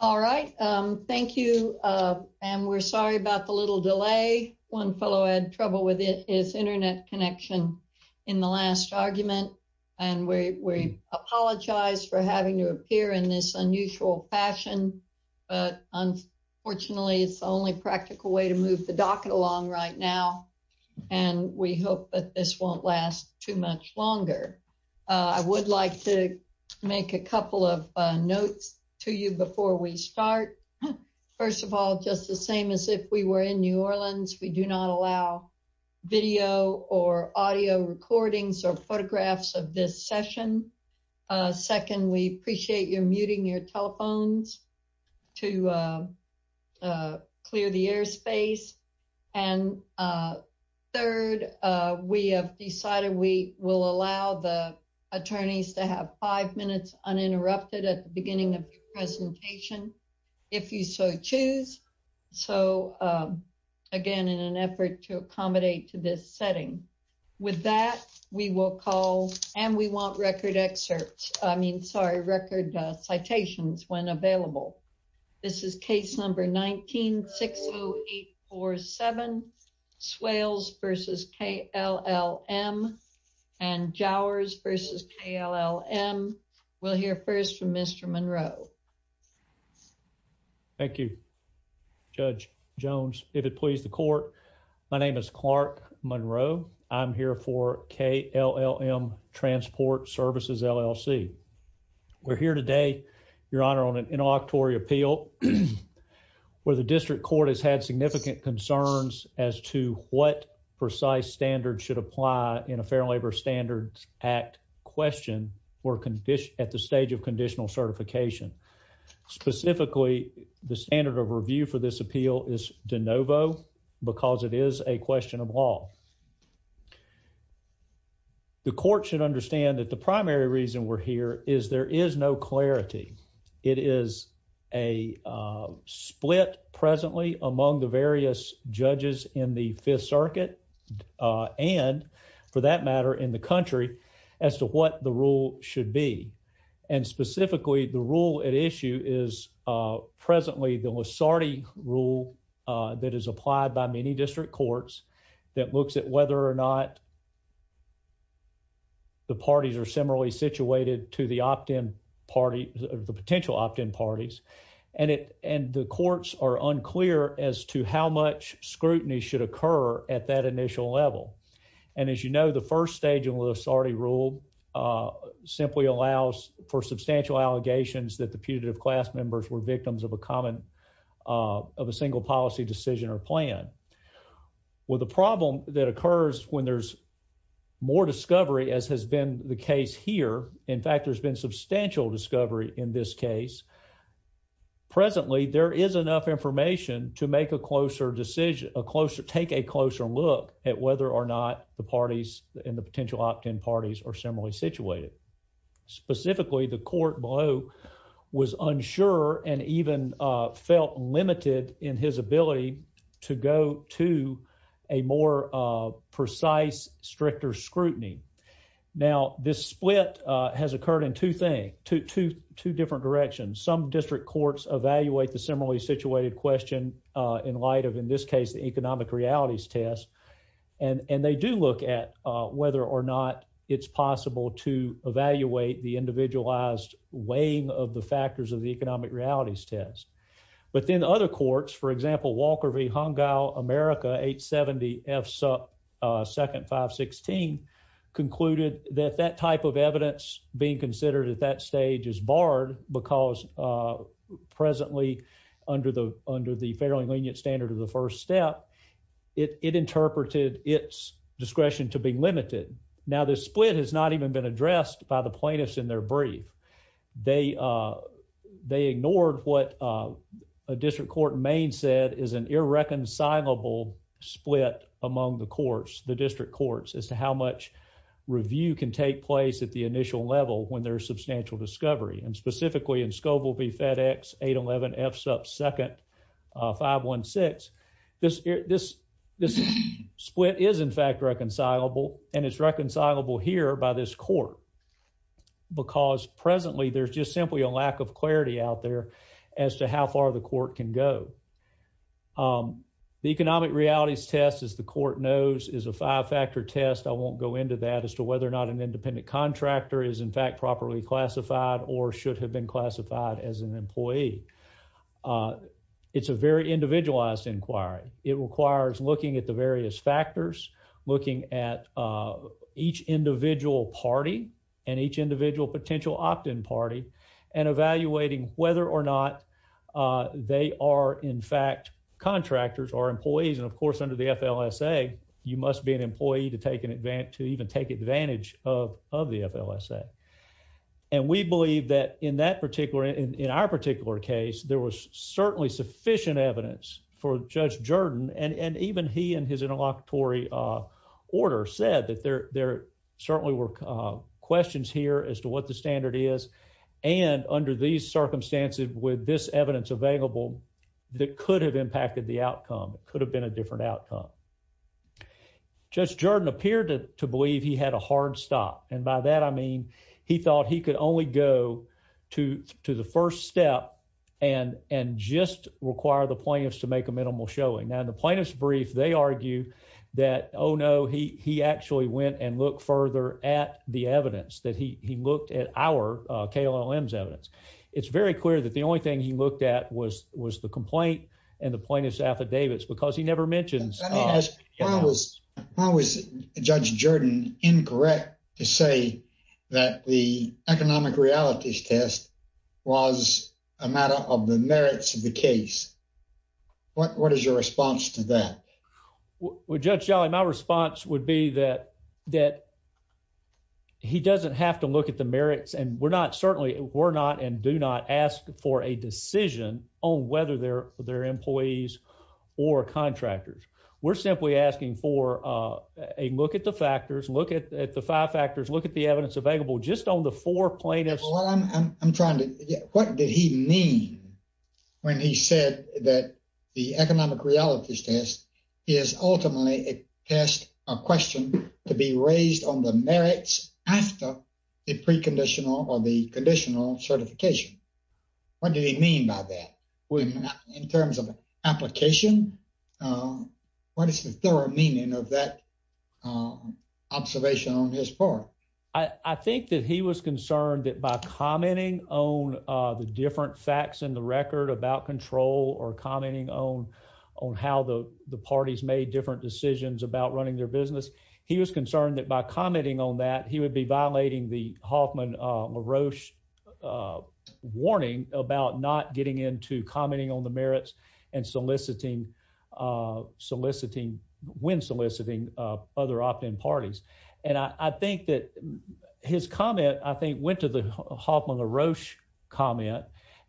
All right, thank you and we're sorry about the little delay. One fellow had trouble with his internet connection in the last argument and we apologize for having to appear in this unusual fashion, but unfortunately it's the only practical way to move the docket along right now and we hope that this won't last too much longer. I would like to make a couple of notes to you before we start. First of all, just the same as if we were in New Orleans, we do not allow video or audio recordings or photographs of this session. Second, we appreciate you're muting your telephones to clear the airspace. And third, we have decided we will allow the if you so choose. So again, in an effort to accommodate to this setting. With that, we will call and we want record excerpts. I mean, sorry, record citations when available. This is case number 19-60847 Swales v. KLLM and Jowers v. KLLM. We'll hear first from Mr. Monroe. Thank you, Judge Jones. If it please the court, my name is Clark Monroe. I'm here for KLLM Transport Services LLC. We're here today, Your Honor, on an interlocutory appeal where the district court has had significant concerns as to what precise standards should apply in a Fair Labor Standards Act question or condition at the stage of conditional certification. Specifically, the standard of review for this appeal is de novo because it is a question of law. The court should understand that the primary reason we're here is there is no clarity. It is a split presently among the various judges in the Fifth Circuit and, for that matter, in the country as to what the rule should be. Specifically, the rule at issue is presently the Lusardi rule that is applied by many district courts that looks at whether or not the parties are similarly situated to the opt-in parties, the potential opt-in parties. The courts are unclear as to how much scrutiny should occur at that initial level. As you know, the first stage of the Lusardi rule simply allows for substantial allegations that the putative class members were victims of a common, of a single policy decision or plan. With the problem that occurs when there's more discovery, as has been the case here, in fact, there's been substantial discovery in this case. Presently, there is enough information to make a closer decision, a closer, take a closer look at whether or not the parties in the potential opt-in parties are similarly situated. Specifically, the court below was unsure and even felt limited in his ability to go to a more precise, stricter scrutiny. Now, this split has occurred in two things, two different directions. Some district courts evaluate the similarly situated question in light of, in this case, the economic realities test. And they do look at whether or not it's possible to evaluate the individualized weighing of the factors of the economic realities test. But then other courts, for example, Walker v. Hongao America 870 F2nd 516, concluded that that type of evidence being considered at that stage is barred because presently, under the fairly lenient standard of the first step, it interpreted its discretion to be limited. Now, this split has not even been addressed by the plaintiffs in their brief. They ignored what a district court in Maine said is an irreconcilable split among the courts, the district courts, as to how much review can take place at the initial level when there's substantial discovery. And specifically in Scoville v. FedEx 811 F2nd 516, this split is, in fact, reconcilable, and it's reconcilable here by this court because presently, there's just simply a lack of clarity out there as to how far the court can go. The economic realities test, as the court knows, is a five-factor test. I won't go into that as whether or not an independent contractor is, in fact, properly classified or should have been classified as an employee. It's a very individualized inquiry. It requires looking at the various factors, looking at each individual party and each individual potential opt-in party, and evaluating whether or not they are, in fact, contractors or employees. And of course, under the FLSA, you must be an employee to even take advantage of the FLSA. And we believe that in our particular case, there was certainly sufficient evidence for Judge Jordan, and even he and his interlocutory order said that there certainly were questions here as to what the standard is, and under these circumstances with this evidence available, that could have impacted the outcome. It could have been a different outcome. Judge Jordan appeared to believe he had a hard stop, and by that, I mean, he thought he could only go to the first step and just require the plaintiffs to make a minimal showing. Now, in the plaintiff's brief, they argue that, oh no, he actually went and looked further at the evidence that he looked at our KLLM's evidence. It's very clear that the only thing he looked at was the complaint and the plaintiff's affidavits, because he never mentions... Why was Judge Jordan incorrect to say that the economic realities test was a matter of the merits of the case? What is your response to that? Well, Judge Jolly, my response would be that he doesn't have to look at the merits, and we're not, certainly we're not, and do not ask for a decision on whether they're employees or contractors. We're simply asking for a look at the factors, look at the five factors, look at the evidence available just on the four plaintiffs. I'm trying to... What did he mean when he said that the economic realities test is ultimately a test, a question, to be raised on the merits after the preconditional or the conditional certification? What did he mean by that in terms of application? What is the thorough meaning of that observation on his part? I think that he was concerned that by commenting on the different facts in the record about control or commenting on how the parties made different decisions about running their business, he was concerned that by commenting on that, he would be violating the Hoffman-LaRoche warning about not getting into commenting on the merits and soliciting, when soliciting other opt-in parties. And I think that his comment, I think, went to the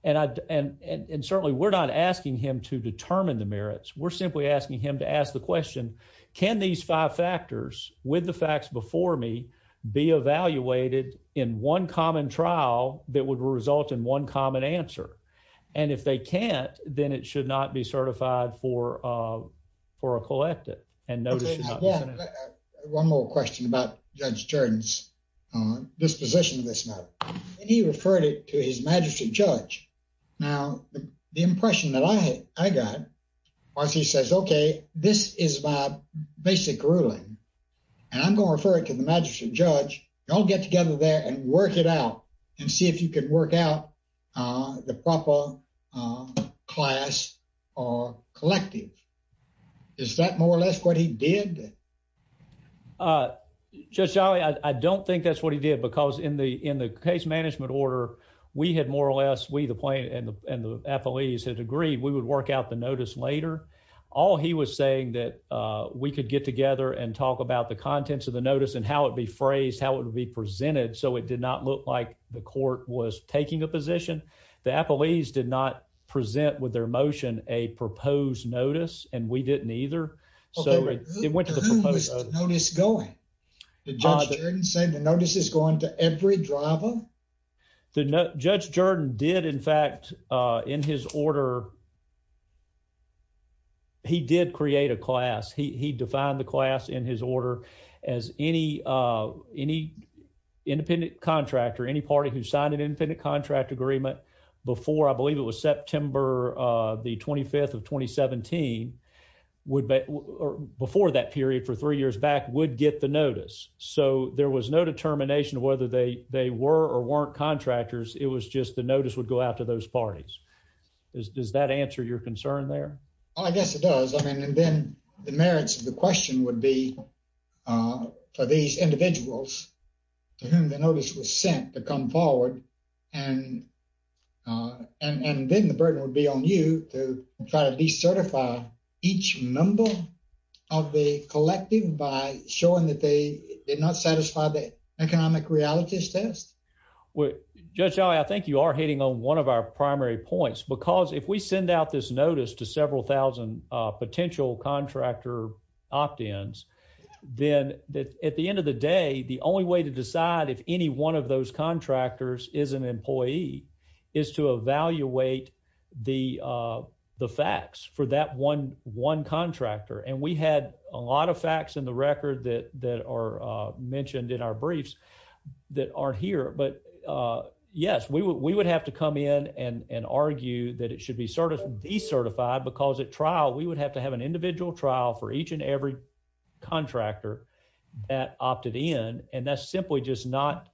and certainly we're not asking him to determine the merits. We're simply asking him to ask the question, can these five factors, with the facts before me, be evaluated in one common trial that would result in one common answer? And if they can't, then it should not be certified for a collective and notice... One more question about Judge Jordan's disposition of this matter. He referred it to his majesty judge. Now, the impression that I got was he says, okay, this is my basic ruling and I'm going to refer it to the majesty judge. Y'all get together there and work it out and see if you can work out the proper class or collective. Is that more or less what he did? Judge Jolly, I don't think that's what he did because in the case management order, we had more or less, we, the plaintiff and the appellees, had agreed we would work out the notice later. All he was saying that we could get together and talk about the contents of the notice and how it'd be phrased, how it would be presented, so it did not look like the court was taking a position. The appellees did not present with their motion a proposed notice and we didn't either. Who was the notice going? Did Judge Jordan say the notice is going to every driver? Judge Jordan did, in fact, in his order, he did create a class. He defined the class in his order as any independent contractor, any party who signed an independent contract agreement before, I believe it was September the 25th of 2017, would, before that period for three years back, would get the notice. So there was no determination whether they were or weren't contractors. It was just the notice would go out to those parties. Does that answer your concern there? I guess it does. I mean, and then the merits of the question would be for these individuals to whom the notice was sent to come forward, and then the burden would be on you to try to decertify each member of the collective by showing that they did not satisfy the economic realities test. Judge Jolly, I think you are hitting on one of our primary points because if we send out this notice to several thousand potential contractor opt-ins, then at the end of the day, the only way to decide if any one of those contractors is an employee is to evaluate the facts for that one contractor. And we had a lot of facts in the record that are mentioned in our briefs that aren't here. But yes, we would have to come in and argue that it should be decertified because at trial, we would have to have an individual trial for each and every contractor that opted in. And that's simply just not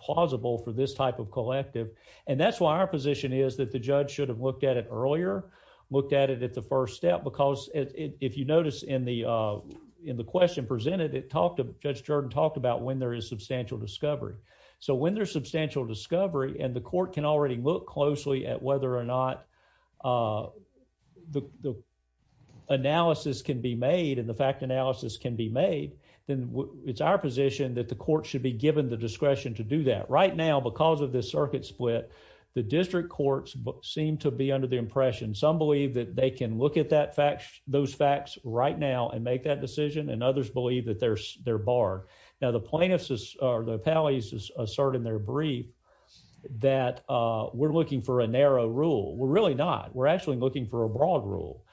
plausible for this type of collective. And that's why our position is that the judge should have looked at it earlier, looked at it at the first step, because if you notice in the question presented, Judge Jordan talked about when there is substantial discovery. So when there's substantial discovery and the court can already look closely at whether or not the analysis can be made and the fact analysis can be made, then it's our position that the discretion to do that. Right now, because of this circuit split, the district courts seem to be under the impression, some believe that they can look at those facts right now and make that decision, and others believe that they're barred. Now, the plaintiffs or the appellees assert in their brief that we're looking for a narrow rule. We're really not. We're actually looking for a broad rule.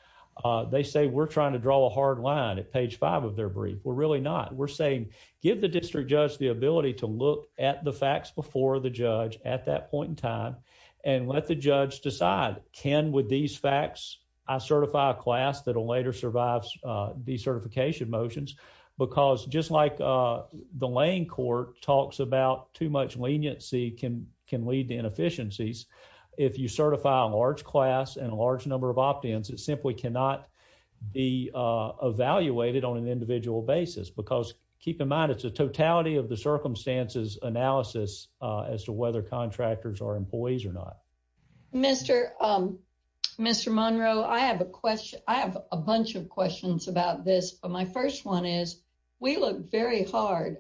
They say we're trying to draw a hard line at page five of their brief. We're really not. We're saying give the district judge the ability to look at the facts before the judge at that point in time and let the judge decide, can with these facts I certify a class that will later survive decertification motions? Because just like the laying court talks about too much leniency can lead to inefficiencies, if you certify a large class and a large number of opt-ins, it simply cannot be evaluated on an individual basis. Because keep in mind, it's a totality of the circumstances analysis as to whether contractors are employees or not. Mr. Monroe, I have a bunch of questions about this, but my first one is we look very hard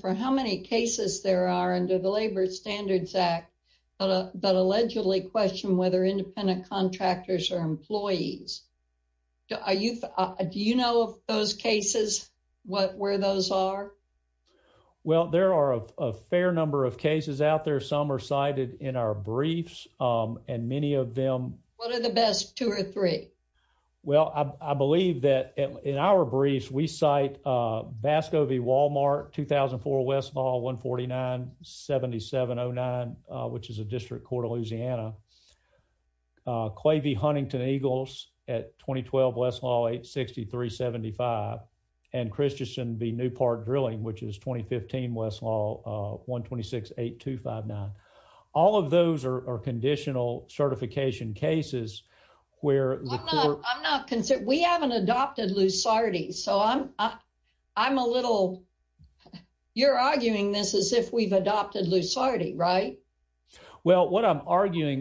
for how many cases there are under the Labor Standards Act that allegedly question whether independent contractors are employees. Do you know of those cases, where those are? Well, there are a fair number of cases out there. Some are cited in our briefs, and many of them... What are the best two or three? Well, I believe that in our briefs, we cite Vasco v. Walmart, 2004 Westlaw 149-7709, which is a district court of Louisiana, Quavey Huntington-Eagles at 2012 Westlaw 860-375, and Christensen v. Newport Drilling, which is 2015 Westlaw 126-8259. All of those are conditional certification cases where the court... I'm not... We haven't adopted Lusardi, so I'm a little... You're arguing this as if we've adopted Lusardi, right? Well, what I'm arguing...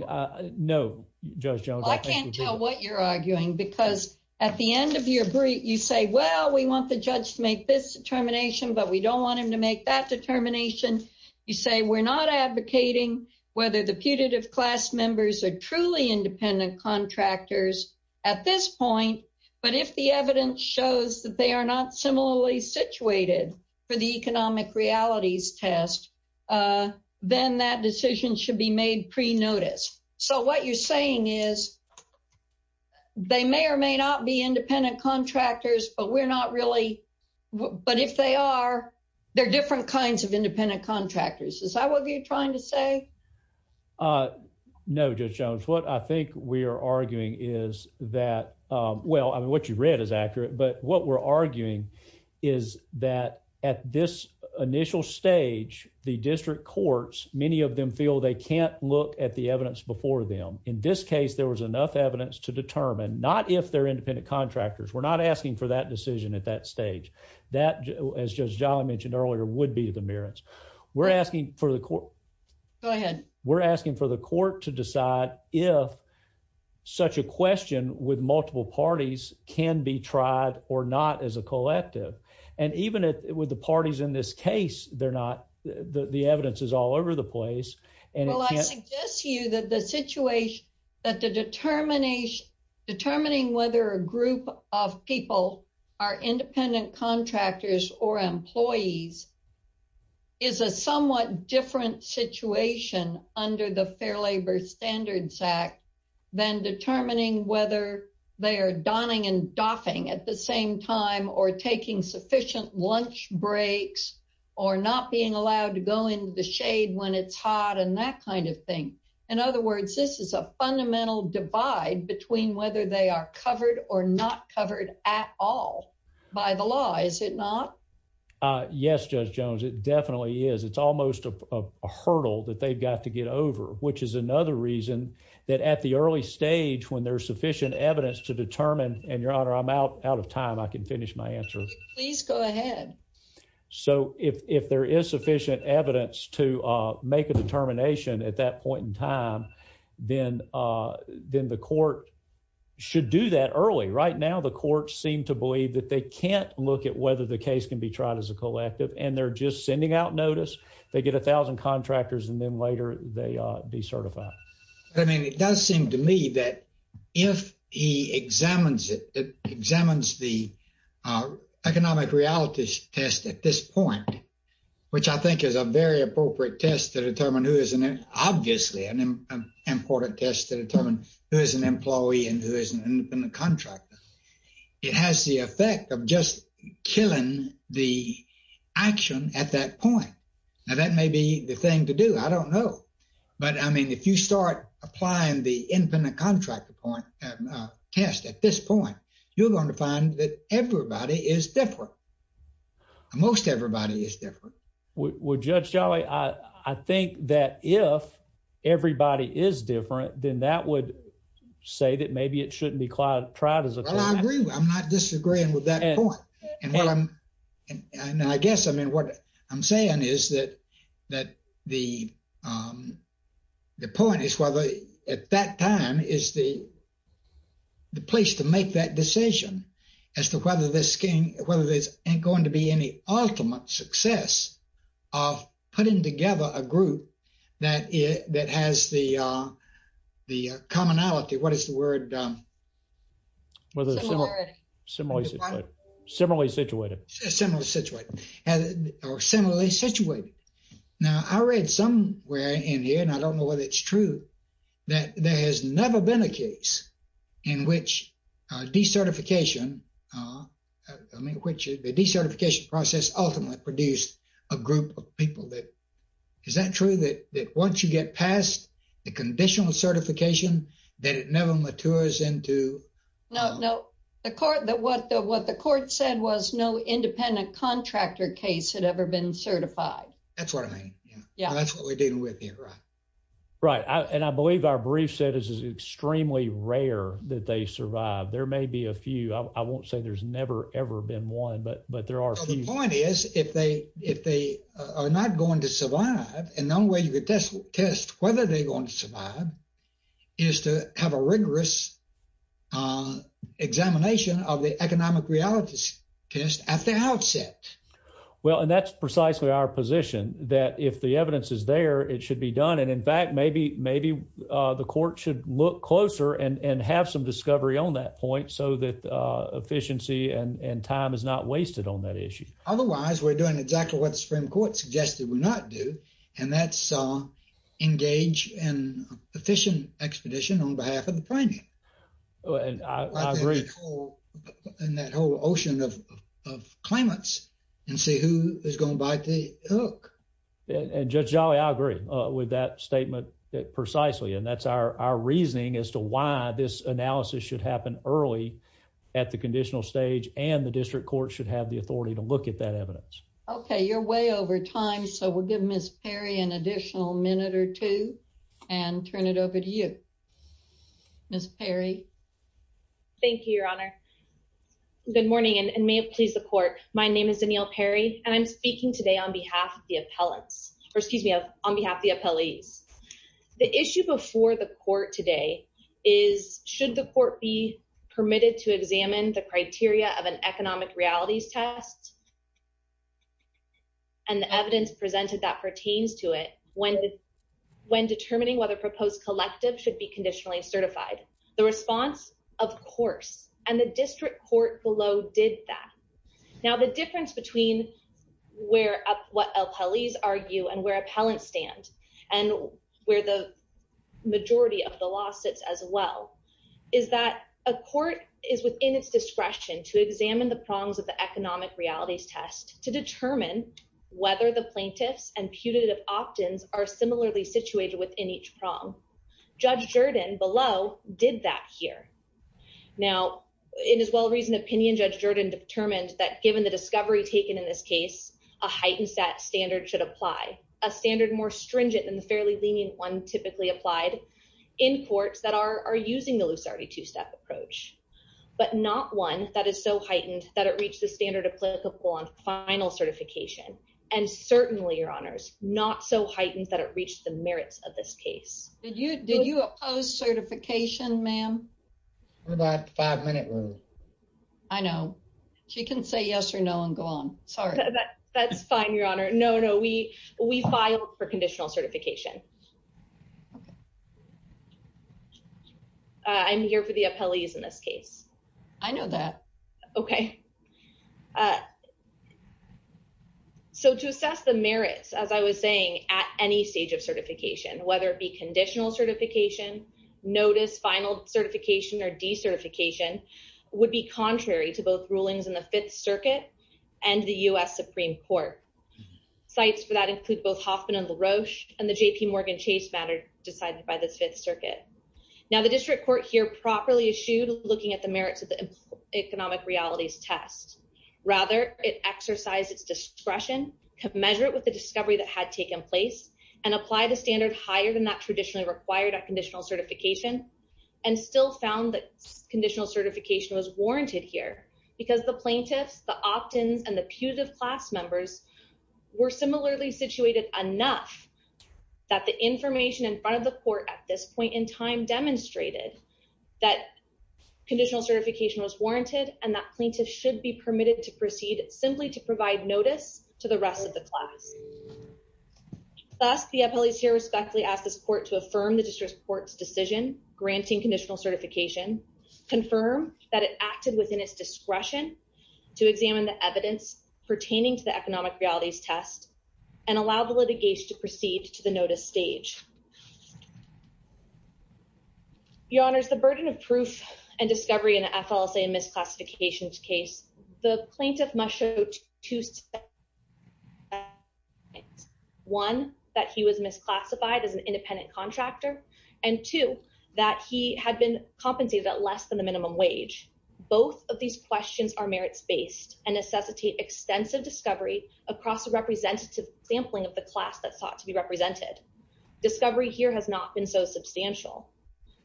No, Judge Jones. I can't tell what you're arguing because at the end of your brief, you say, well, we want the judge to make this determination, but we don't want him to make that determination. You say we're not advocating whether the putative class members are truly independent contractors at this point, but if the evidence shows that they are not similarly situated for the economic realities test, then that decision should be made pre-notice. So what you're saying is they may or may not be independent contractors, but we're not really... But if they are, they're different kinds of independent contractors. Is that what you're trying to say? No, Judge Jones. What I think we are arguing is that... Well, I mean, what you read is accurate, but what we're arguing is that at this initial stage, the district courts, many of them feel they can't look at the evidence before them. In this case, there was enough evidence to determine, not if they're independent contractors. We're not asking for that decision at that stage. That, as Judge Jolly mentioned earlier, would be the merits. We're asking for the court... Go ahead. Such a question with multiple parties can be tried or not as a collective. And even with the parties in this case, the evidence is all over the place. Well, I suggest to you that the situation, that the determining whether a group of people are independent contractors or employees is a somewhat different situation under the Fair Labor Standards Act than determining whether they are donning and doffing at the same time or taking sufficient lunch breaks or not being allowed to go into the shade when it's hot and that kind of thing. In other words, this is a fundamental divide between whether they are covered or not covered at all by the law. Is it not? Yes, Judge Jones, it definitely is. It's almost a hurdle that they've got to get over, which is another reason that at the early stage, when there's sufficient evidence to determine... And Your Honor, I'm out of time. I can finish my answer. Please go ahead. So if there is sufficient evidence to make a determination at that point in time, then the court should do that early. Right now, the courts seem to believe that they can't look whether the case can be tried as a collective and they're just sending out notice. They get 1,000 contractors and then later they decertify. I mean, it does seem to me that if he examines it, it examines the economic realities test at this point, which I think is a very appropriate test to determine who is an... Obviously, an important test to determine who is an employee and who is an independent contractor. It has the effect of just killing the action at that point. Now, that may be the thing to do. I don't know. But I mean, if you start applying the independent contractor test at this point, you're going to find that everybody is different. Most everybody is different. Well, Judge Jolley, I think that if everybody is different, then that would say that maybe it shouldn't be tried as a collective. Well, I agree. I'm not disagreeing with that point. And I guess, I mean, what I'm saying is that the point is whether at that time is the place to make that decision as to whether there's going to be any ultimate success of putting together a group that has the commonality. What is the word? Similarly situated. Or similarly situated. Now, I read somewhere in here, and I don't know whether it's true, that there has never been a case in which decertification process ultimately produced a group of people. Is that true? That once you get past the conditional certification, that it never matures into... No, no. What the court said was no independent contractor case had ever been certified. That's what I mean. That's what we're dealing with here, right? Right. And I believe our brief said this is extremely rare that they survive. There may be a few. I won't say there's never, ever been one, but there are a few. The point is, if they are not going to survive, and the only way you could test whether they're going to survive is to have a rigorous examination of the economic realities test at the outset. Well, and that's precisely our position, that if the evidence is there, it should be done. And in fact, maybe the court should look closer and have some discovery on that point so that efficiency and time is not wasted on that issue. Otherwise, we're doing exactly what the Supreme Court suggested we not do, and that's engage in efficient expedition on behalf of the French. And that whole ocean of claimants and see who is going to bite the hook. And Judge Jolly, I agree with that statement precisely. And that's our reasoning as to why this analysis should happen early at the conditional stage, and the district court should have the authority to look at that evidence. Okay. You're way over time, so we'll give Ms. Perry an additional minute or two and turn it over to you. Ms. Perry. Thank you, Your Honor. Good morning, and may it please the court. My name is Danielle Perry, and I'm speaking today on behalf of the appellants, or excuse me, on behalf of the appellees. The issue before the court today is should the court be permitted to examine the criteria of an economic realities test and the evidence presented that pertains to it when determining whether proposed collective should be conditionally certified. The response, of course, and the district court below did that. Now, the difference between what appellees argue and where appellants stand and where the majority of the law sits as well is that a court is within its discretion to examine the prongs of the economic realities test to determine whether the plaintiffs and putative opt-ins are similarly situated within each prong. Judge Jordan below did that here. Now, in his well-reasoned opinion, Judge Jordan determined that given the discovery taken in this case, a heightened set standard should apply, a standard more stringent than the fairly lenient one typically applied in courts that are using the loose already two-step approach, but not one that is so heightened that it reached the standard applicable on final certification. And certainly, your honors, not so heightened that it reached the merits of this case. Did you did you oppose certification, ma'am? For that five-minute rule. I know. She can say yes or no and go on. Sorry. That's fine, your honor. No, no. We filed for conditional certification. Okay. I'm here for the appellees in this case. I know that. Okay. So, to assess the merits, as I was saying, at any stage of certification, whether it be conditional certification, notice, final certification, or decertification would be contrary to both rulings in the Fifth Circuit and the U.S. Supreme Court. Cites for that include both Hoffman and LaRoche and the JPMorgan Chase matter decided by the Fifth Circuit. Now, the district court here properly eschewed looking at the merits of the economic realities test. Rather, it exercised its discretion to measure it with the discovery that had taken place and apply the standard higher than that traditionally required at conditional certification and still found that conditional certification was warranted here because the plaintiffs, the opt-ins, and the putative class members were similarly situated enough that the information in front of the court at this point in time demonstrated that conditional certification was warranted and that plaintiffs should be permitted to proceed simply to provide notice to the rest of the class. Thus, the appellees here respectfully ask this court to affirm the district court's decision granting conditional certification, confirm that it acted within its discretion to examine the evidence pertaining to the economic realities test, and allow the litigation to proceed to the notice stage. Your Honors, the burden of proof and discovery in an FLSA misclassification case, the plaintiff must show two sides. One, that he was misclassified as an independent contractor, and two, that he had been compensated at less than the minimum wage. Both of these questions are merits-based and necessitate extensive discovery across a representative sampling of the class that sought to be represented. Discovery here has not been so substantial.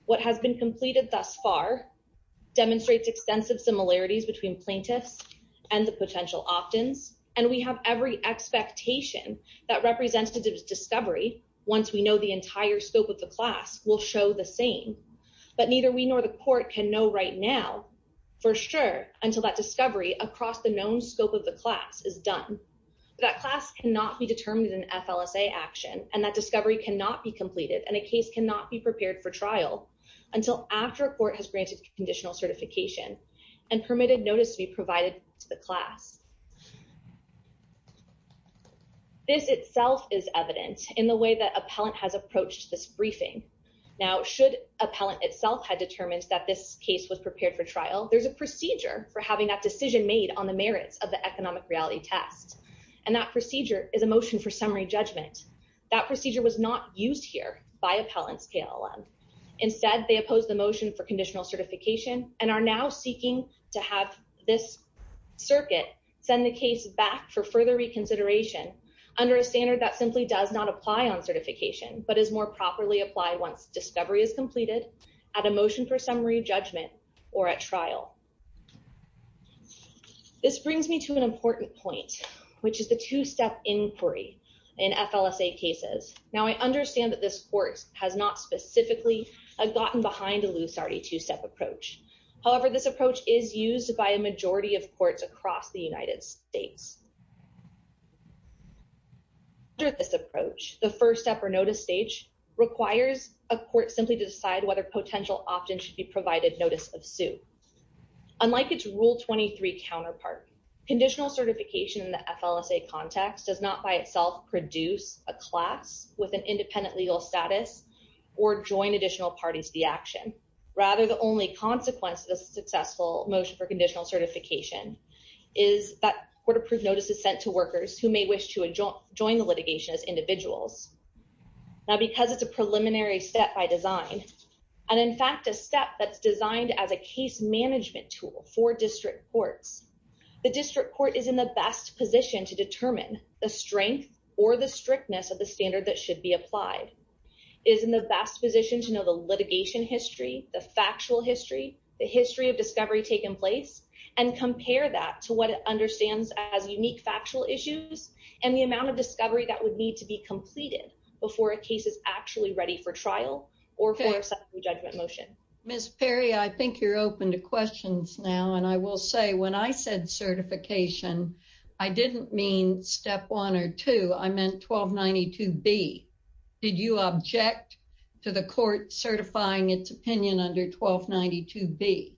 What has been completed thus far demonstrates extensive similarities between plaintiffs and the potential opt-ins, and we have every expectation that representative discovery, once we know the entire scope of the class, will show the same. But neither we nor the court can know right now for sure until that discovery across the known scope of the class is done. That class cannot be determined in an FLSA action, and that discovery cannot be completed, and a case cannot be prepared for trial until after a court has granted conditional certification and permitted notice to be provided to the class. This itself is evident in the way that appellant has approached this briefing. Now, should appellant itself had determined that this case was prepared for trial, there's a and that procedure is a motion for summary judgment. That procedure was not used here by appellant's KLM. Instead, they opposed the motion for conditional certification and are now seeking to have this circuit send the case back for further reconsideration under a standard that simply does not apply on certification but is more properly applied once discovery is completed at a motion for summary judgment or at trial. This brings me to an important point, which is the two-step inquiry in FLSA cases. Now, I understand that this court has not specifically gotten behind a loose already two-step approach. However, this approach is used by a majority of courts across the United States. Under this approach, the first step or notice stage requires a court simply to decide whether potential opt-in should be provided notice of sue. Unlike its Rule 23 counterpart, conditional certification in the FLSA context does not by itself produce a class with an independent legal status or join additional parties to the action. Rather, the only consequence of the successful motion for conditional certification is that court-approved notice is sent to workers who may wish to join the litigation as individuals. Now, because it's a preliminary step by design and, in fact, a step that's designed as a case management tool for district courts, the district court is in the best position to determine the strength or the strictness of the standard that should be applied, is in the best position to know the litigation history, the factual history, the history of discovery taking place, and compare that to what it understands as unique factual issues and the amount of discovery that would need to be completed before a case is actually ready for trial or for a second judgment motion. Ms. Perry, I think you're open to questions now, and I will say when I said certification, I didn't mean step one or two. I meant 1292B. Did you object to the court certifying its opinion under 1292B?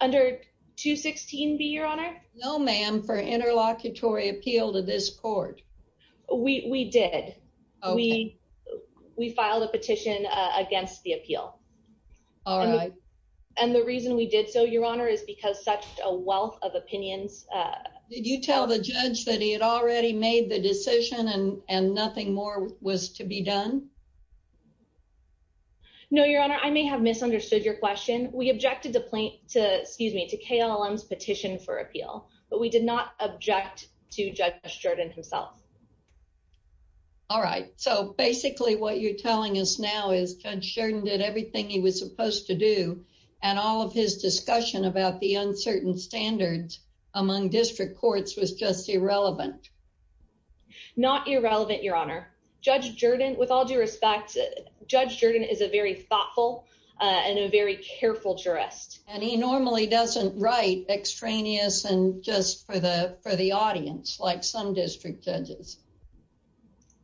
Under 216B, Your Honor? No, ma'am, for interlocutory appeal to this court. We did. We filed a petition against the appeal. And the reason we did so, Your Honor, is because such a wealth of opinions... Did you tell the judge that he had already made the decision and nothing more was to be done? No, Your Honor, I may have misunderstood your question. We objected to KLLM's petition for certification. All right. So basically, what you're telling us now is Judge Jordan did everything he was supposed to do, and all of his discussion about the uncertain standards among district courts was just irrelevant. Not irrelevant, Your Honor. Judge Jordan, with all due respect, Judge Jordan is a very thoughtful and a very careful jurist. And he normally doesn't write extraneous and just for the audience, like some district judges.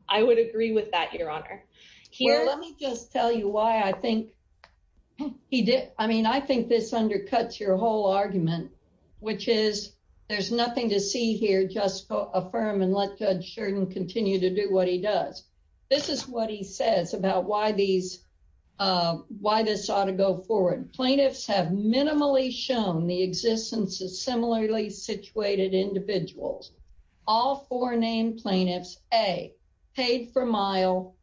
I would agree with that, Your Honor. Well, let me just tell you why I think he did. I mean, I think this undercuts your whole argument, which is there's nothing to see here, just affirm and let Judge Jordan continue to do what he does. This is what he says about why this ought to go forward. Plaintiffs have minimally shown the existence of similarly situated individuals. All four named plaintiffs, A, paid per mile,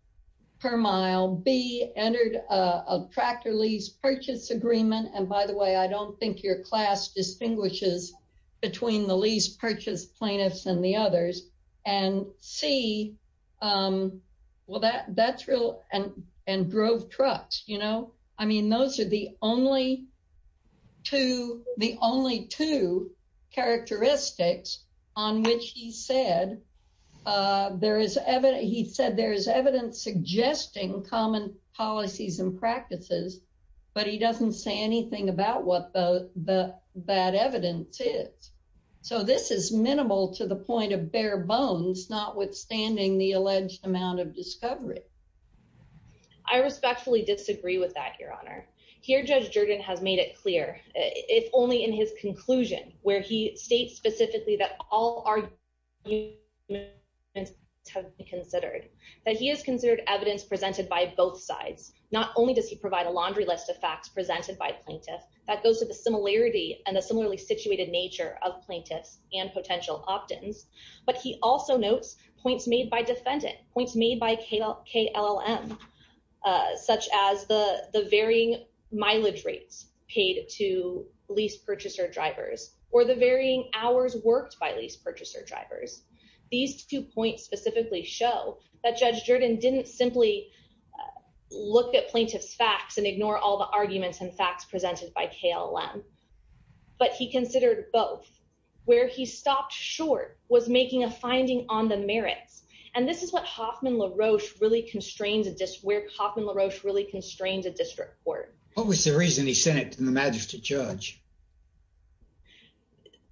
B, entered a tractor lease purchase agreement. And by the way, I don't think your class distinguishes between the lease purchase plaintiffs and the others. And C, well, that's real and drove trucks, you know? I mean, those are the only two characteristics on which he said there is evidence suggesting common policies and practices, but he doesn't say anything about what the bad evidence is. So this is minimal to the point of bare bones, notwithstanding the alleged amount of discovery. I respectfully disagree with that, Your Honor. Here, Judge Jordan has made it clear, if only in his conclusion, where he states specifically that all arguments have to be considered, that he has considered evidence presented by both sides. Not only does he provide a laundry list of facts presented by plaintiffs, that goes to the similarity and the similarly situated nature of plaintiffs and potential opt-ins, but he also notes points by defendant, points made by KLM, such as the varying mileage rates paid to lease purchaser drivers or the varying hours worked by lease purchaser drivers. These two points specifically show that Judge Jordan didn't simply look at plaintiff's facts and ignore all the arguments and facts presented by KLM, but he considered both. Where he stopped short was making a finding on the merits, and this is where Hoffman LaRoche really constrains a district court. What was the reason he sent it to the magistrate judge?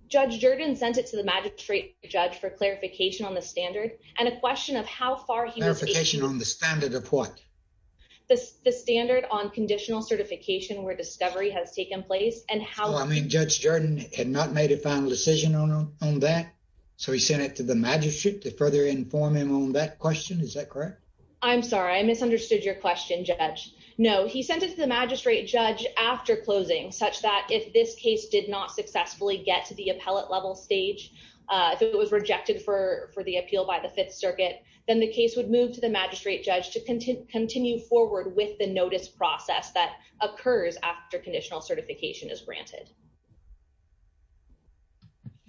Judge Jordan sent it to the magistrate judge for clarification on the standard, and a question of how far he was able... Clarification on the standard of what? The standard on conditional certification where discovery has taken place, and how... Judge Jordan had not made a final decision on that, so he sent it to the magistrate to further inform him on that question. Is that correct? I'm sorry, I misunderstood your question, Judge. No, he sent it to the magistrate judge after closing, such that if this case did not successfully get to the appellate level stage, if it was rejected for the appeal by the Fifth Circuit, then the case would move to the magistrate judge to continue forward with the notice process that occurs after conditional certification is completed.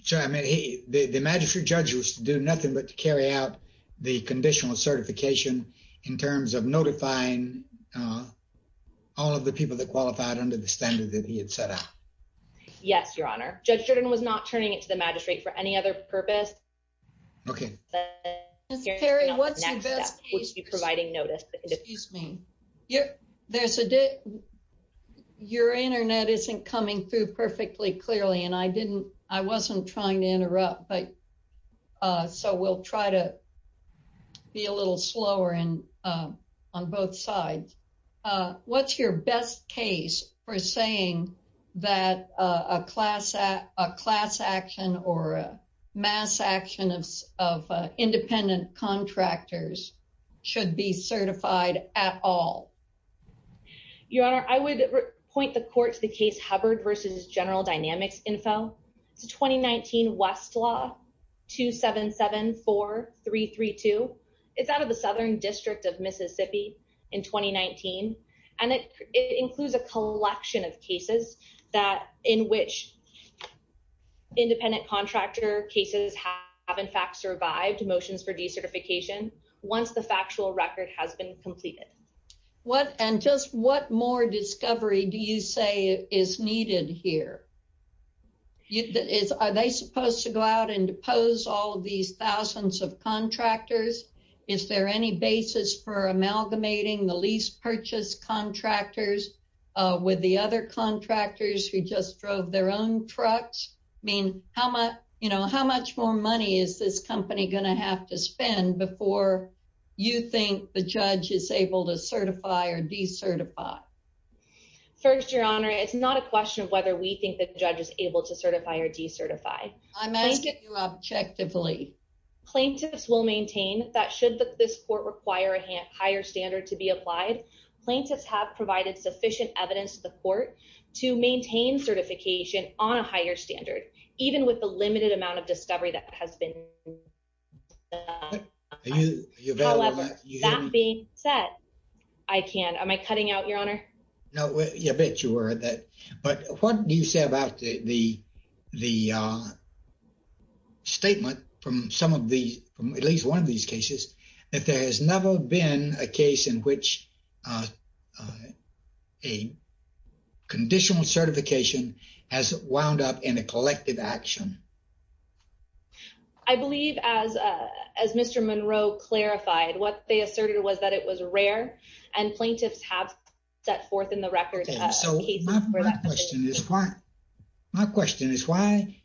Sorry, I meant the magistrate judge was to do nothing but to carry out the conditional certification in terms of notifying all of the people that qualified under the standard that he had set out. Yes, Your Honor. Judge Jordan was not turning it to the magistrate for any other purpose. Okay. Perry, what's your best case? ...providing notice... Your internet isn't coming through perfectly clearly, and I wasn't trying to interrupt, so we'll try to be a little slower on both sides. What's your best case for saying that a class action or a mass action of independent contractors should be certified at all? Your Honor, I would point the court to the case Hubbard v. General Dynamics Info. It's a 2019 Westlaw 2774332. It's out of the Southern District of Mississippi in 2019, and it includes a collection of cases in which independent contractor cases have in fact been certified. And just what more discovery do you say is needed here? Are they supposed to go out and depose all of these thousands of contractors? Is there any basis for amalgamating the lease purchase contractors with the other contractors who just drove their own trucks? I mean, how much more money is this company going to have to spend before you think the judge is able to certify or decertify? First, Your Honor, it's not a question of whether we think the judge is able to certify or decertify. I'm asking you objectively. Plaintiffs will maintain that should this court require a higher standard to be applied, plaintiffs have provided sufficient evidence to the court to maintain certification on a higher standard, even with the limited amount of discovery that has been. However, that being said, I can't, am I cutting out, Your Honor? No, I bet you were. But what do you say about the statement from some of these, at least one of these cases, that there has never been a case in which a conditional certification has wound up in a collective action? I believe as Mr. Monroe clarified, what they asserted was that it was rare and plaintiffs have set forth in the record. Okay, so my question is why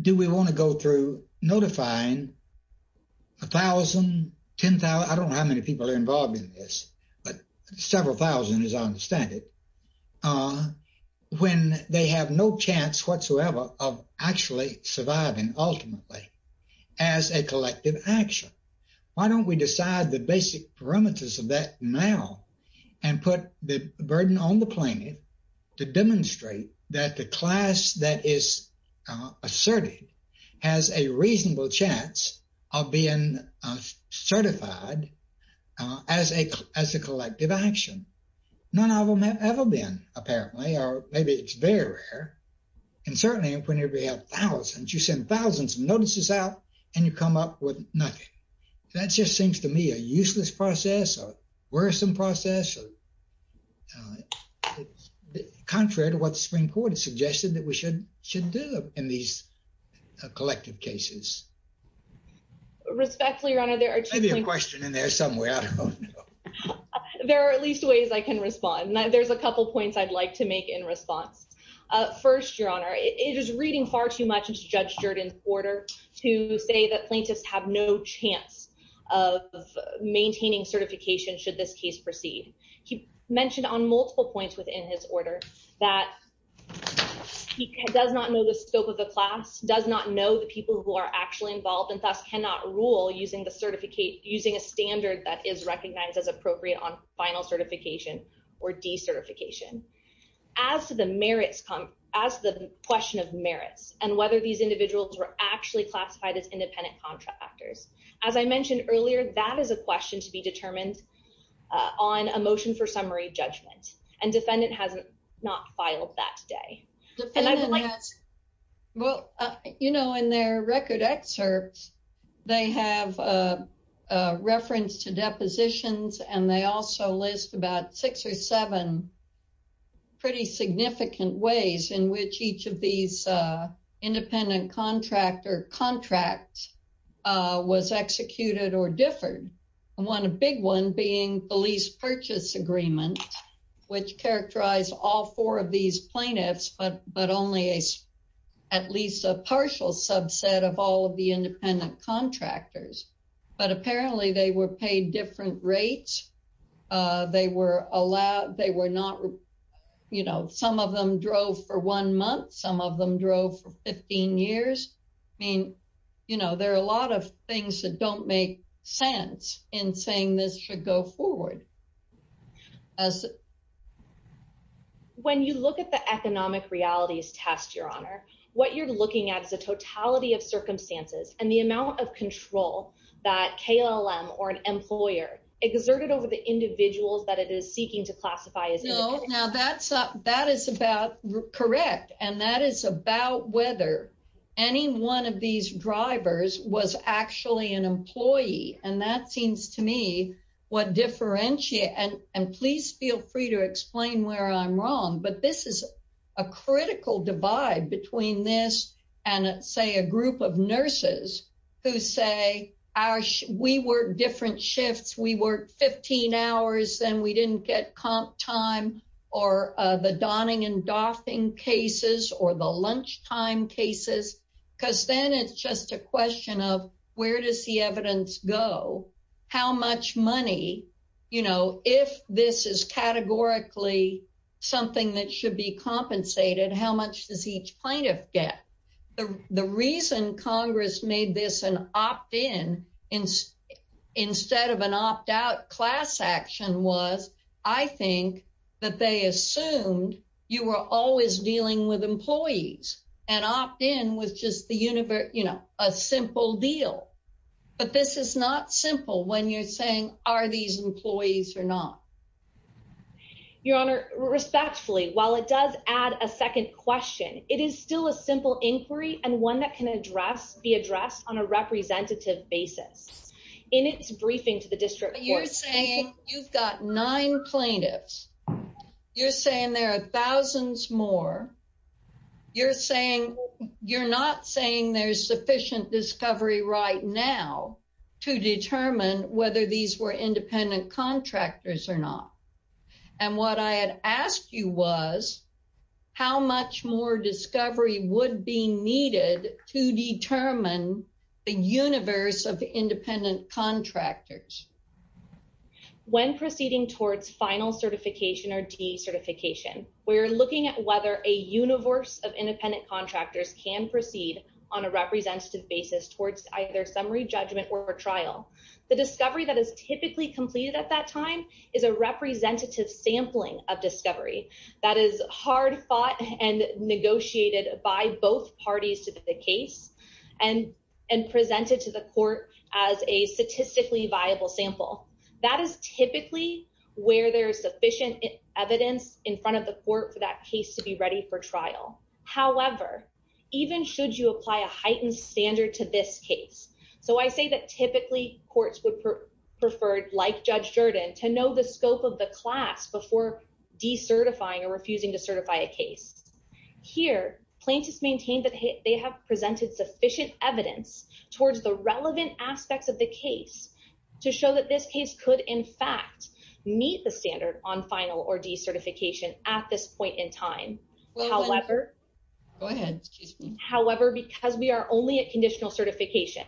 do we want to go through notifying 1,000, 10,000, I don't know how many people are involved in this, but several thousand as I understand it, when they have no chance whatsoever of actually surviving ultimately as a collective action? Why don't we decide the basic parameters of that now and put the burden on the plaintiff to demonstrate that the class that is asserted has a reasonable chance of being certified as a collective action? None of them have ever been, apparently, or maybe it's very rare. And certainly when you have thousands, you send thousands of notices out and you come up with nothing. That just seems to me a useless process or worrisome process, contrary to what the Supreme Court has suggested that we should do in these collective cases. Respectfully, Your Honor, there are two points- Maybe a question in there somewhere. There are at least ways I can respond. There's a couple points I'd like to make in response. First, Your Honor, it is reading far too much into Judge Jordan's order to say that plaintiffs have no chance of maintaining certification should this case proceed. He mentioned on multiple points within his order that he does not know the scope of the class, does not know the people who are actually involved, and thus cannot rule using a standard that is recognized as appropriate on final certification or decertification. As to the question of merits and whether these individuals were actually classified as independent contractors, as I mentioned earlier, that is a question to be determined on a motion for summary judgment. And defendant has not filed that today. Well, you know, in their record excerpts, they have a reference to depositions, and they also list about six or seven pretty significant ways in which each of these independent contractor contracts was executed or differed. One big one being the lease purchase agreement, which characterized all four of these plaintiffs, but only at least a partial subset of all of the independent contractors. But apparently they were paid different rates. They were allowed, they were not, you know, some of them drove for one month, some of them drove for 15 years. I mean, you know, there are a lot of things that don't make sense in saying this should go forward. As when you look at the economic realities test, your honor, what you're looking at is a totality of circumstances and the amount of control that KLM or an employer exerted over the individuals that it is seeking to classify as no. Now that's that is about correct. And that is about whether any one of these drivers was actually an employee. And that seems to me what differentiate, and please feel free to explain where I'm wrong, but this is a critical divide between this and say a group of nurses who say, we work different shifts, we work 15 hours, then we didn't get time or the donning and doffing cases or the lunchtime cases, because then it's just a question of where does the evidence go? How much money, you know, if this is categorically something that should be compensated, how much does each plaintiff get? The reason Congress made this an opt in instead of an opt out class action was, I think that they assumed you were always dealing with employees and opt in with just the universe, you know, a simple deal. But this is not simple when you're saying are these employees or not? Your honor, respectfully, while it does add a second question, it is still a simple inquiry and one that can address be addressed on a representative basis. In its briefing to the district court, you're saying you've got nine plaintiffs. You're saying there are thousands more. You're saying you're not saying there's sufficient discovery right now to determine whether these were independent contractors or not. And what I had asked you was, how much more discovery would be needed to determine the universe of independent contractors? When proceeding towards final certification or decertification, we're looking at whether a universe of independent contractors can proceed on a representative basis towards either summary judgment or trial. The discovery that is typically completed at that time is a representative sampling of discovery that is hard fought and negotiated by both parties to the case and presented to the court as a statistically viable sample. That is typically where there's sufficient evidence in front of the court for that case to be ready for trial. However, even should you apply a heightened standard to this case. So I say that typically courts would prefer, like Judge Jordan, to know the scope of the class before decertifying or refusing to certify a case. Here, plaintiffs maintain that they have presented sufficient evidence towards the relevant aspects of the case to show that this case could in fact meet the standard on final or decertification at this point in time. However, because we are only at conditional certification.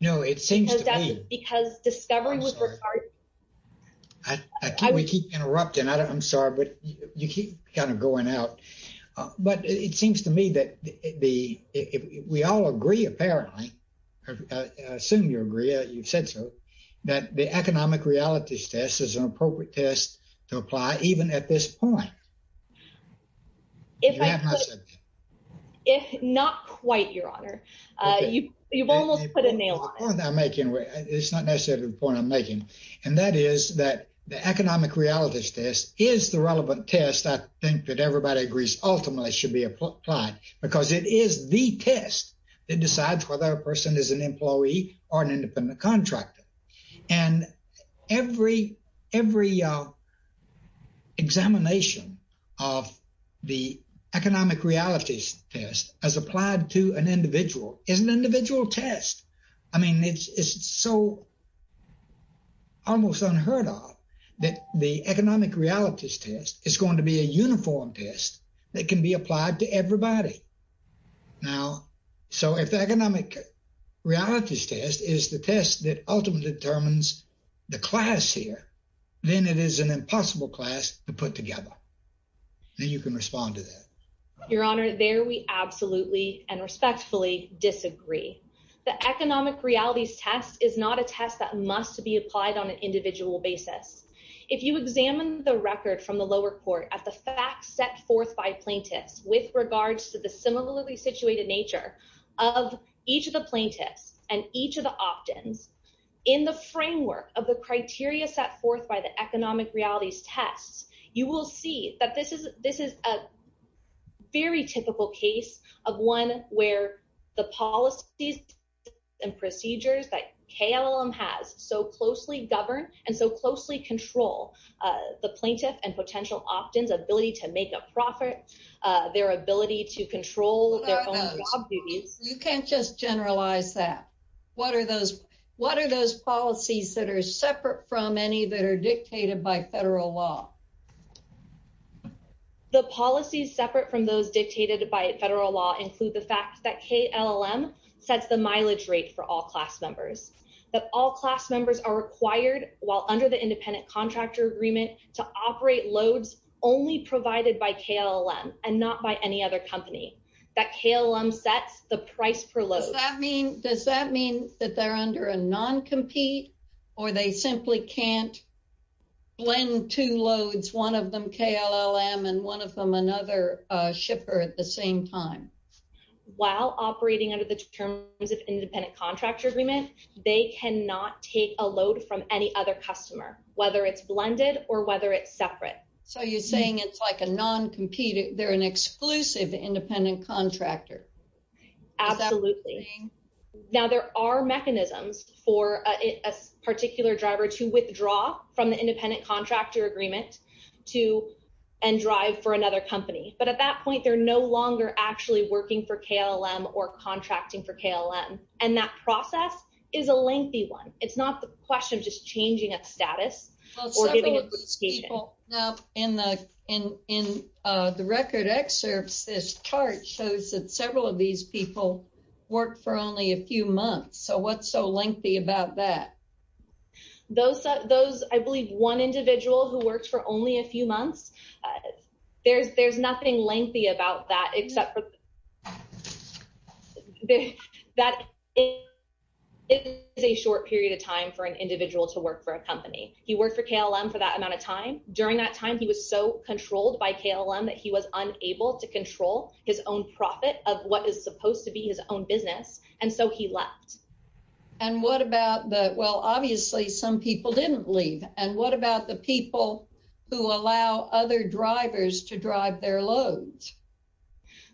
No, it seems to me. Because discovery was. I keep interrupting. I'm sorry, but you keep kind of going out. But it seems to me that we all agree apparently, I assume you agree, you've said so, that the economic realities test is an appropriate test to apply even at this point. If not quite, Your Honor, you've almost put a nail on the point I'm making, it's not necessarily the point I'm making. And that is that the economic realities test is the relevant test. I think that everybody agrees ultimately should be applied because it is the test that decides whether a person is an employee or an independent contractor. And every examination of the economic realities test as applied to an individual is an individual test. I mean, it's so almost unheard of that the economic realities test is going to be a uniform test that can be applied to everybody. Now, so if the economic realities test is the test that ultimately determines the class here, then it is an impossible class to put together. Then you can respond to that. Your Honor, there we absolutely and respectfully disagree. The economic realities test is not a test that must be applied on an individual basis. If you examine the record from the lower court at the fact set forth by plaintiffs with regards to the similarly in the framework of the criteria set forth by the economic realities tests, you will see that this is a very typical case of one where the policies and procedures that KLM has so closely govern and so closely control the plaintiff and potential opt-ins ability to make a profit, their ability to control their own job duties. You can't just generalize that. What are those policies that are separate from any that are dictated by federal law? The policies separate from those dictated by federal law include the fact that KLM sets the mileage rate for all class members. That all class members are required while under the independent contractor agreement to operate loads only provided by KLM and not by any other company. That KLM sets the price per load. Does that mean that they're under a non-compete or they simply can't blend two loads, one of them KLM and one of them another shipper at the same time? While operating under the terms of independent contractor agreement, they cannot take a load from any other customer, whether it's blended or whether it's separate. So you're saying it's like a non-compete, they're an exclusive independent contractor. Absolutely. Now there are mechanisms for a particular driver to withdraw from the independent contractor agreement and drive for another company, but at that point they're no longer actually working for KLM or contracting for KLM and that process is a lengthy one. It's not the question of just changing a status. In the record excerpts, this chart shows that several of these people work for only a few months. So what's so lengthy about that? Those, I believe one individual who works for only a few months, there's nothing lengthy about that except for that it is a short period of time for an individual to work for a company. He worked for KLM for that amount of time. During that time, he was so controlled by KLM that he was unable to control his own profit of what is supposed to be his own business and so he left. And what about obviously some people didn't leave and what about the people who allow other drivers to drive their loads?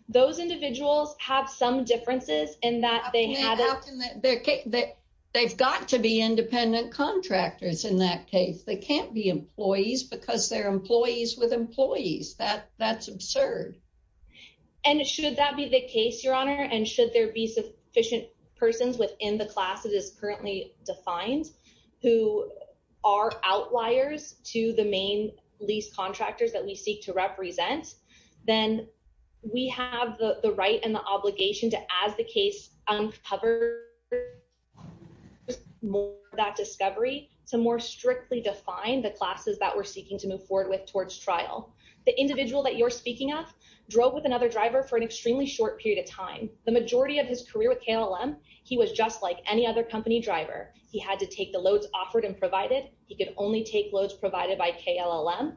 Those individuals have some differences in that they've got to be independent contractors in that case. They can't be employees because they're employees with employees. That's absurd. And should that be the case, Your Honor, and should there be sufficient persons within the class that is currently defined who are outliers to the main lease contractors that we seek to represent, then we have the right and the obligation to, as the case uncovers that discovery, to more strictly define the classes that we're seeking to move forward with towards trial. The individual that you're speaking of drove with another driver for an extremely short period of time. The majority of his career with KLM, he was just like any other company driver. He had to take the loads offered and provided. He could only take loads provided by KLM.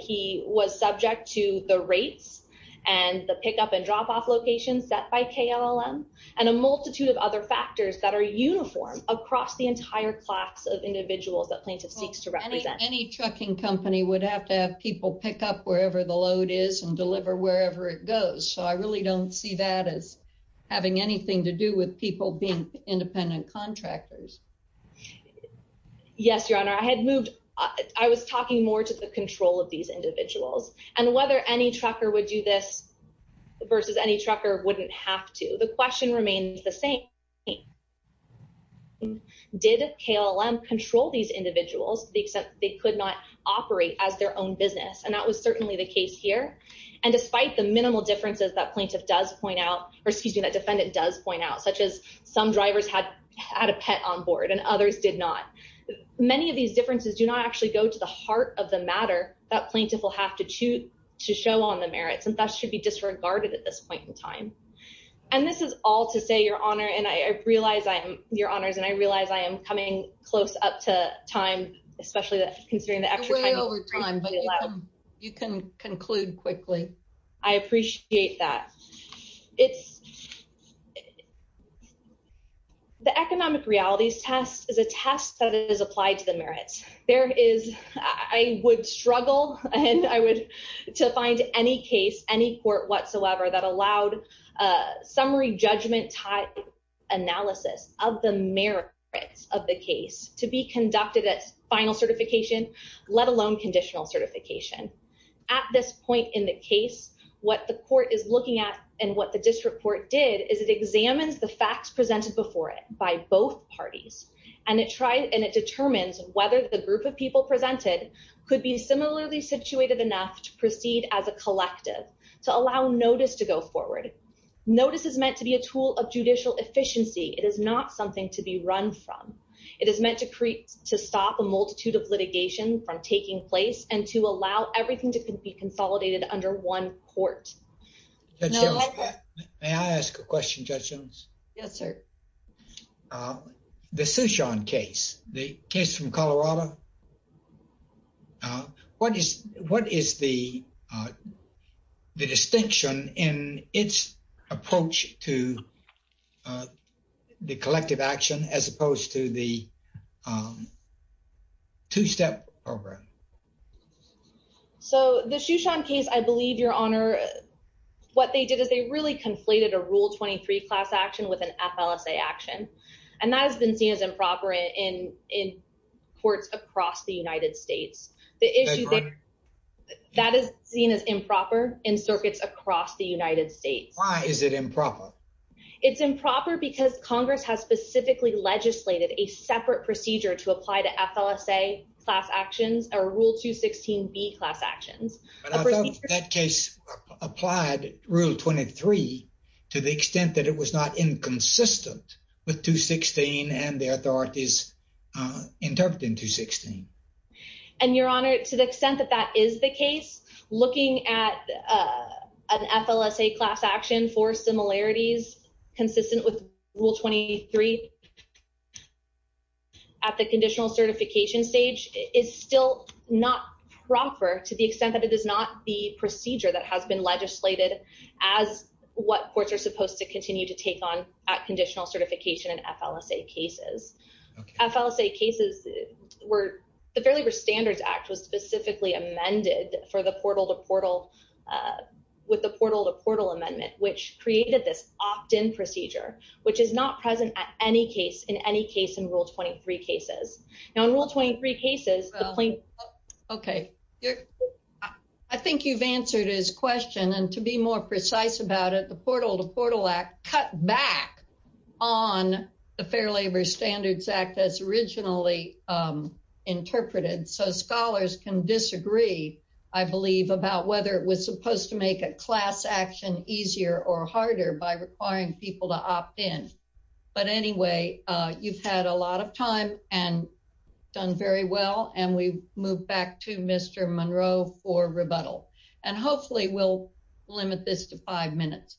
He was subject to the rates and the pickup and drop-off locations set by KLM and a multitude of other factors that are uniform across the entire class of individuals that plaintiff seeks to represent. Any trucking company would have to have people pick up wherever the load is and I really don't see that as having anything to do with people being independent contractors. Yes, Your Honor. I had moved, I was talking more to the control of these individuals and whether any trucker would do this versus any trucker wouldn't have to. The question remains the same. Did KLM control these individuals to the extent they could not operate as their own and that was certainly the case here and despite the minimal differences that plaintiff does point out or excuse me, that defendant does point out such as some drivers had had a pet on board and others did not. Many of these differences do not actually go to the heart of the matter that plaintiff will have to choose to show on the merits and that should be disregarded at this point in time and this is all to say, Your Honor, and I realize I'm, Your Honors, and I realize I am coming close up to time especially considering the extra time. You're way over time but you can conclude quickly. I appreciate that. The economic realities test is a test that is applied to the merits. There is, I would struggle and I would, to find any case, any court whatsoever that allowed summary judgment type analysis of the merits of the case to be conducted at final certification let alone conditional certification. At this point in the case, what the court is looking at and what the district court did is it examines the facts presented before it by both parties and it tried and it determines whether the group of people presented could be situated enough to proceed as a collective to allow notice to go forward. Notice is meant to be a tool of judicial efficiency. It is not something to be run from. It is meant to create, to stop a multitude of litigation from taking place and to allow everything to be consolidated under one court. Judge Jones, may I ask a question, Judge Jones? Yes, sir. The Sushon case, the case from Colorado, what is the distinction in its approach to the collective action as opposed to the two-step program? So the Sushon case, I believe, Your Honor, what they did is they really conflated a Rule 23 class action with an FLSA action and that has been seen as improper in courts across the United States. That is seen as improper in circuits across the United States. Why is it improper? It's improper because Congress has specifically legislated a separate procedure to apply to FLSA class actions or Rule 216B class actions. But I thought that case applied Rule 23 to the extent that it was not inconsistent with 216 and the authorities interpreting 216. And Your Honor, to the extent that that is the case, looking at an FLSA class action for similarities consistent with Rule 23 at the conditional certification stage is still not proper to the extent that it is not the at conditional certification in FLSA cases. FLSA cases, the Fair Labor Standards Act was specifically amended with the portal-to-portal amendment, which created this opt-in procedure, which is not present in any case in Rule 23 cases. Now, in Rule 23 cases, the plaintiff... Okay. I think you've answered his question. And to be more precise about it, the portal-to-portal cut back on the Fair Labor Standards Act as originally interpreted. So scholars can disagree, I believe, about whether it was supposed to make a class action easier or harder by requiring people to opt in. But anyway, you've had a lot of time and done very well. And we move back to Mr. Monroe for rebuttal. And hopefully we'll limit this to five minutes.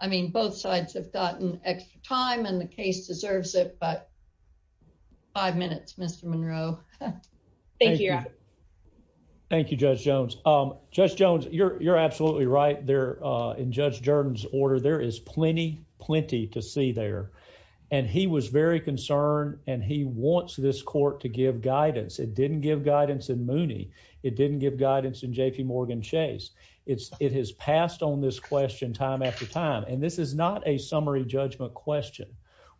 I mean, both sides have gotten extra time and the case deserves it, but five minutes, Mr. Monroe. Thank you, Your Honor. Thank you, Judge Jones. Judge Jones, you're absolutely right. In Judge Jordan's order, there is plenty, plenty to see there. And he was very concerned and he wants this court to give guidance. It didn't give guidance in Mooney. It didn't give guidance in J.P. Morgan Chase. It has passed on this question time after time. And this is not a summary judgment question.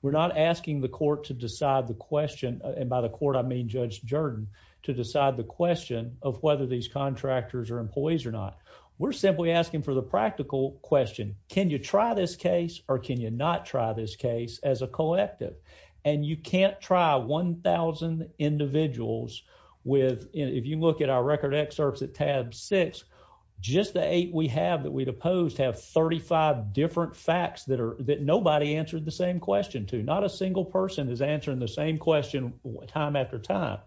We're not asking the court to decide the question, and by the court, I mean Judge Jordan, to decide the question of whether these contractors are employees or not. We're simply asking for the practical question. Can you try this case or can you not try this case as a individual? If you look at our record excerpts at tab six, just the eight we have that we'd opposed have 35 different facts that nobody answered the same question to. Not a single person is answering the same question time after time.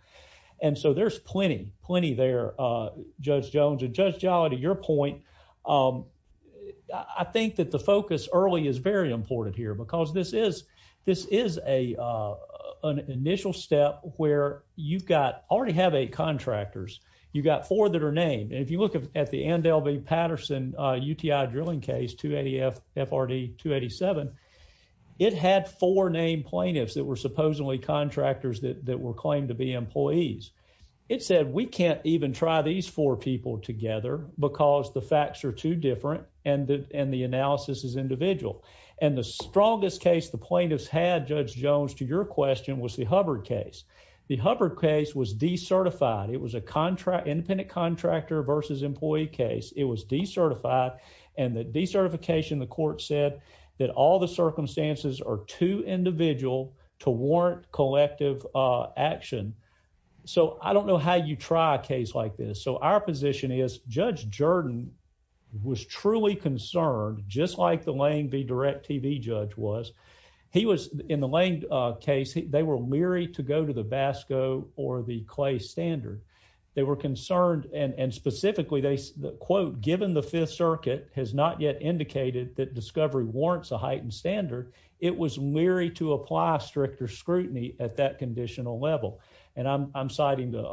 And so there's plenty, plenty there, Judge Jones. And Judge Jolly, to your point, I think that the focus early is very important here because this is an initial step where you've got, already have eight contractors. You've got four that are named. And if you look at the Ann Dalby Patterson UTI drilling case, 280 FRD 287, it had four named plaintiffs that were supposedly contractors that were claimed to be employees. It said, we can't even try these four people together because the facts are too different and the analysis is individual. And the strongest case the plaintiffs had, Judge Jones, to your question was the Hubbard case. The Hubbard case was decertified. It was a contract, independent contractor versus employee case. It was decertified and the decertification, the court said that all the circumstances are too individual to warrant collective action. So I don't know how you try a case like this. So our position is Judge Jordan was truly concerned, just like the Lane v. DirecTV judge was. He was, in the Lane case, they were leery to go to the Vasco or the Clay standard. They were concerned and specifically they quote, given the fifth circuit has not yet indicated that discovery warrants a heightened standard, it was leery to and I'm citing the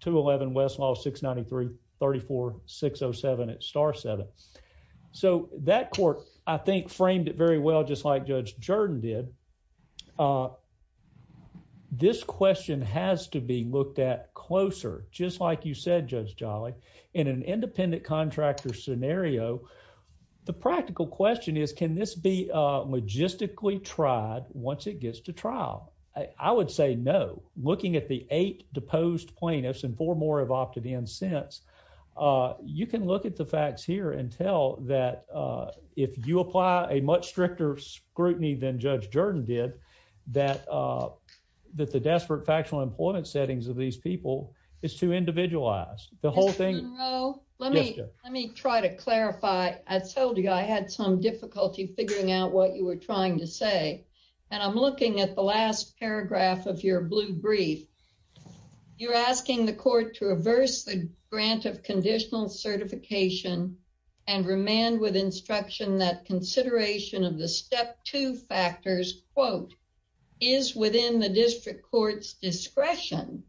211 Westlaw 693-34-607 at star seven. So that court, I think framed it very well, just like Judge Jordan did. This question has to be looked at closer, just like you said, Judge Jolly, in an independent contractor scenario. The practical question is, can this be logistically tried once it gets to trial? I would say no. Looking at the eight deposed plaintiffs and four more have opted in since, you can look at the facts here and tell that if you apply a much stricter scrutiny than Judge Jordan did, that the desperate factual employment settings of these people is too individualized. The whole thing- Mr. Monroe, let me try to clarify. I told you I had some difficulty figuring out what you were trying to say and I'm looking at the last paragraph of your blue brief. You're asking the court to reverse the grant of conditional certification and remand with instruction that consideration of the step two factors quote, is within the district court's discretion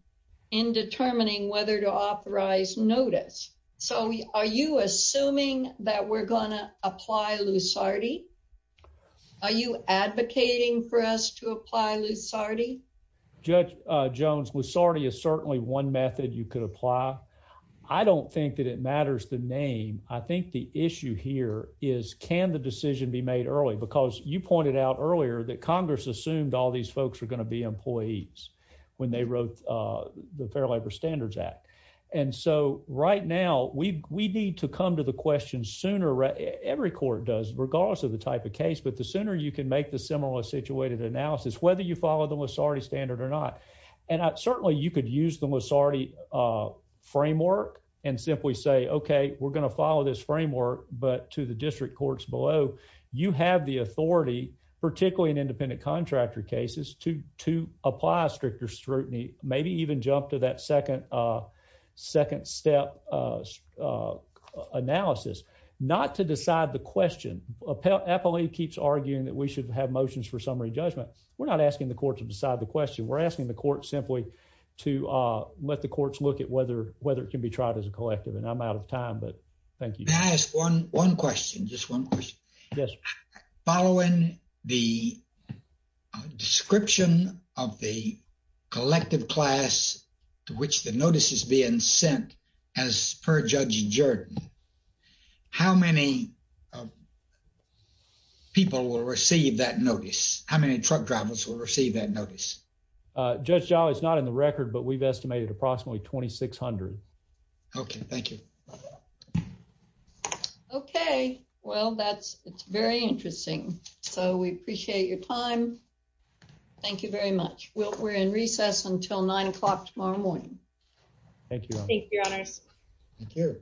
in determining whether to authorize notice. So are you assuming that we're going to apply Lusardi? Are you advocating for us to apply Lusardi? Judge Jones, Lusardi is certainly one method you could apply. I don't think that it matters the name. I think the issue here is, can the decision be made early? Because you pointed out earlier that Congress assumed all these folks were going to be employees when they wrote the Fair Labor Standards Act. And so right now, we need to come to the question sooner. Every court does, regardless of the type of case, but the sooner you can make the similar situated analysis, whether you follow the Lusardi standard or not. And certainly you could use the Lusardi framework and simply say, okay, we're going to follow this framework, but to the district courts below, you have the authority, particularly in independent contractor cases, to apply a stricter scrutiny, maybe even jump to that second step analysis, not to decide the question. Appellee keeps arguing that we should have motions for summary judgment. We're not asking the court to decide the question. We're asking the court simply to let the courts look at whether it can be tried as a collective. And I'm out of time, but thank you. May I ask one question, just one question? Yes. Following the description of the collective class to which the notice is being sent as per Judge Jordan, how many people will receive that notice? How many truck drivers will receive that notice? Judge Jolly, it's not in the record, but we've estimated approximately 2,600. Okay. Thank you. Okay. Well, that's, it's very interesting. So we appreciate your time. Thank you very much. We'll, we're in recess until nine o'clock tomorrow morning. Thank you. Thank you, your honors.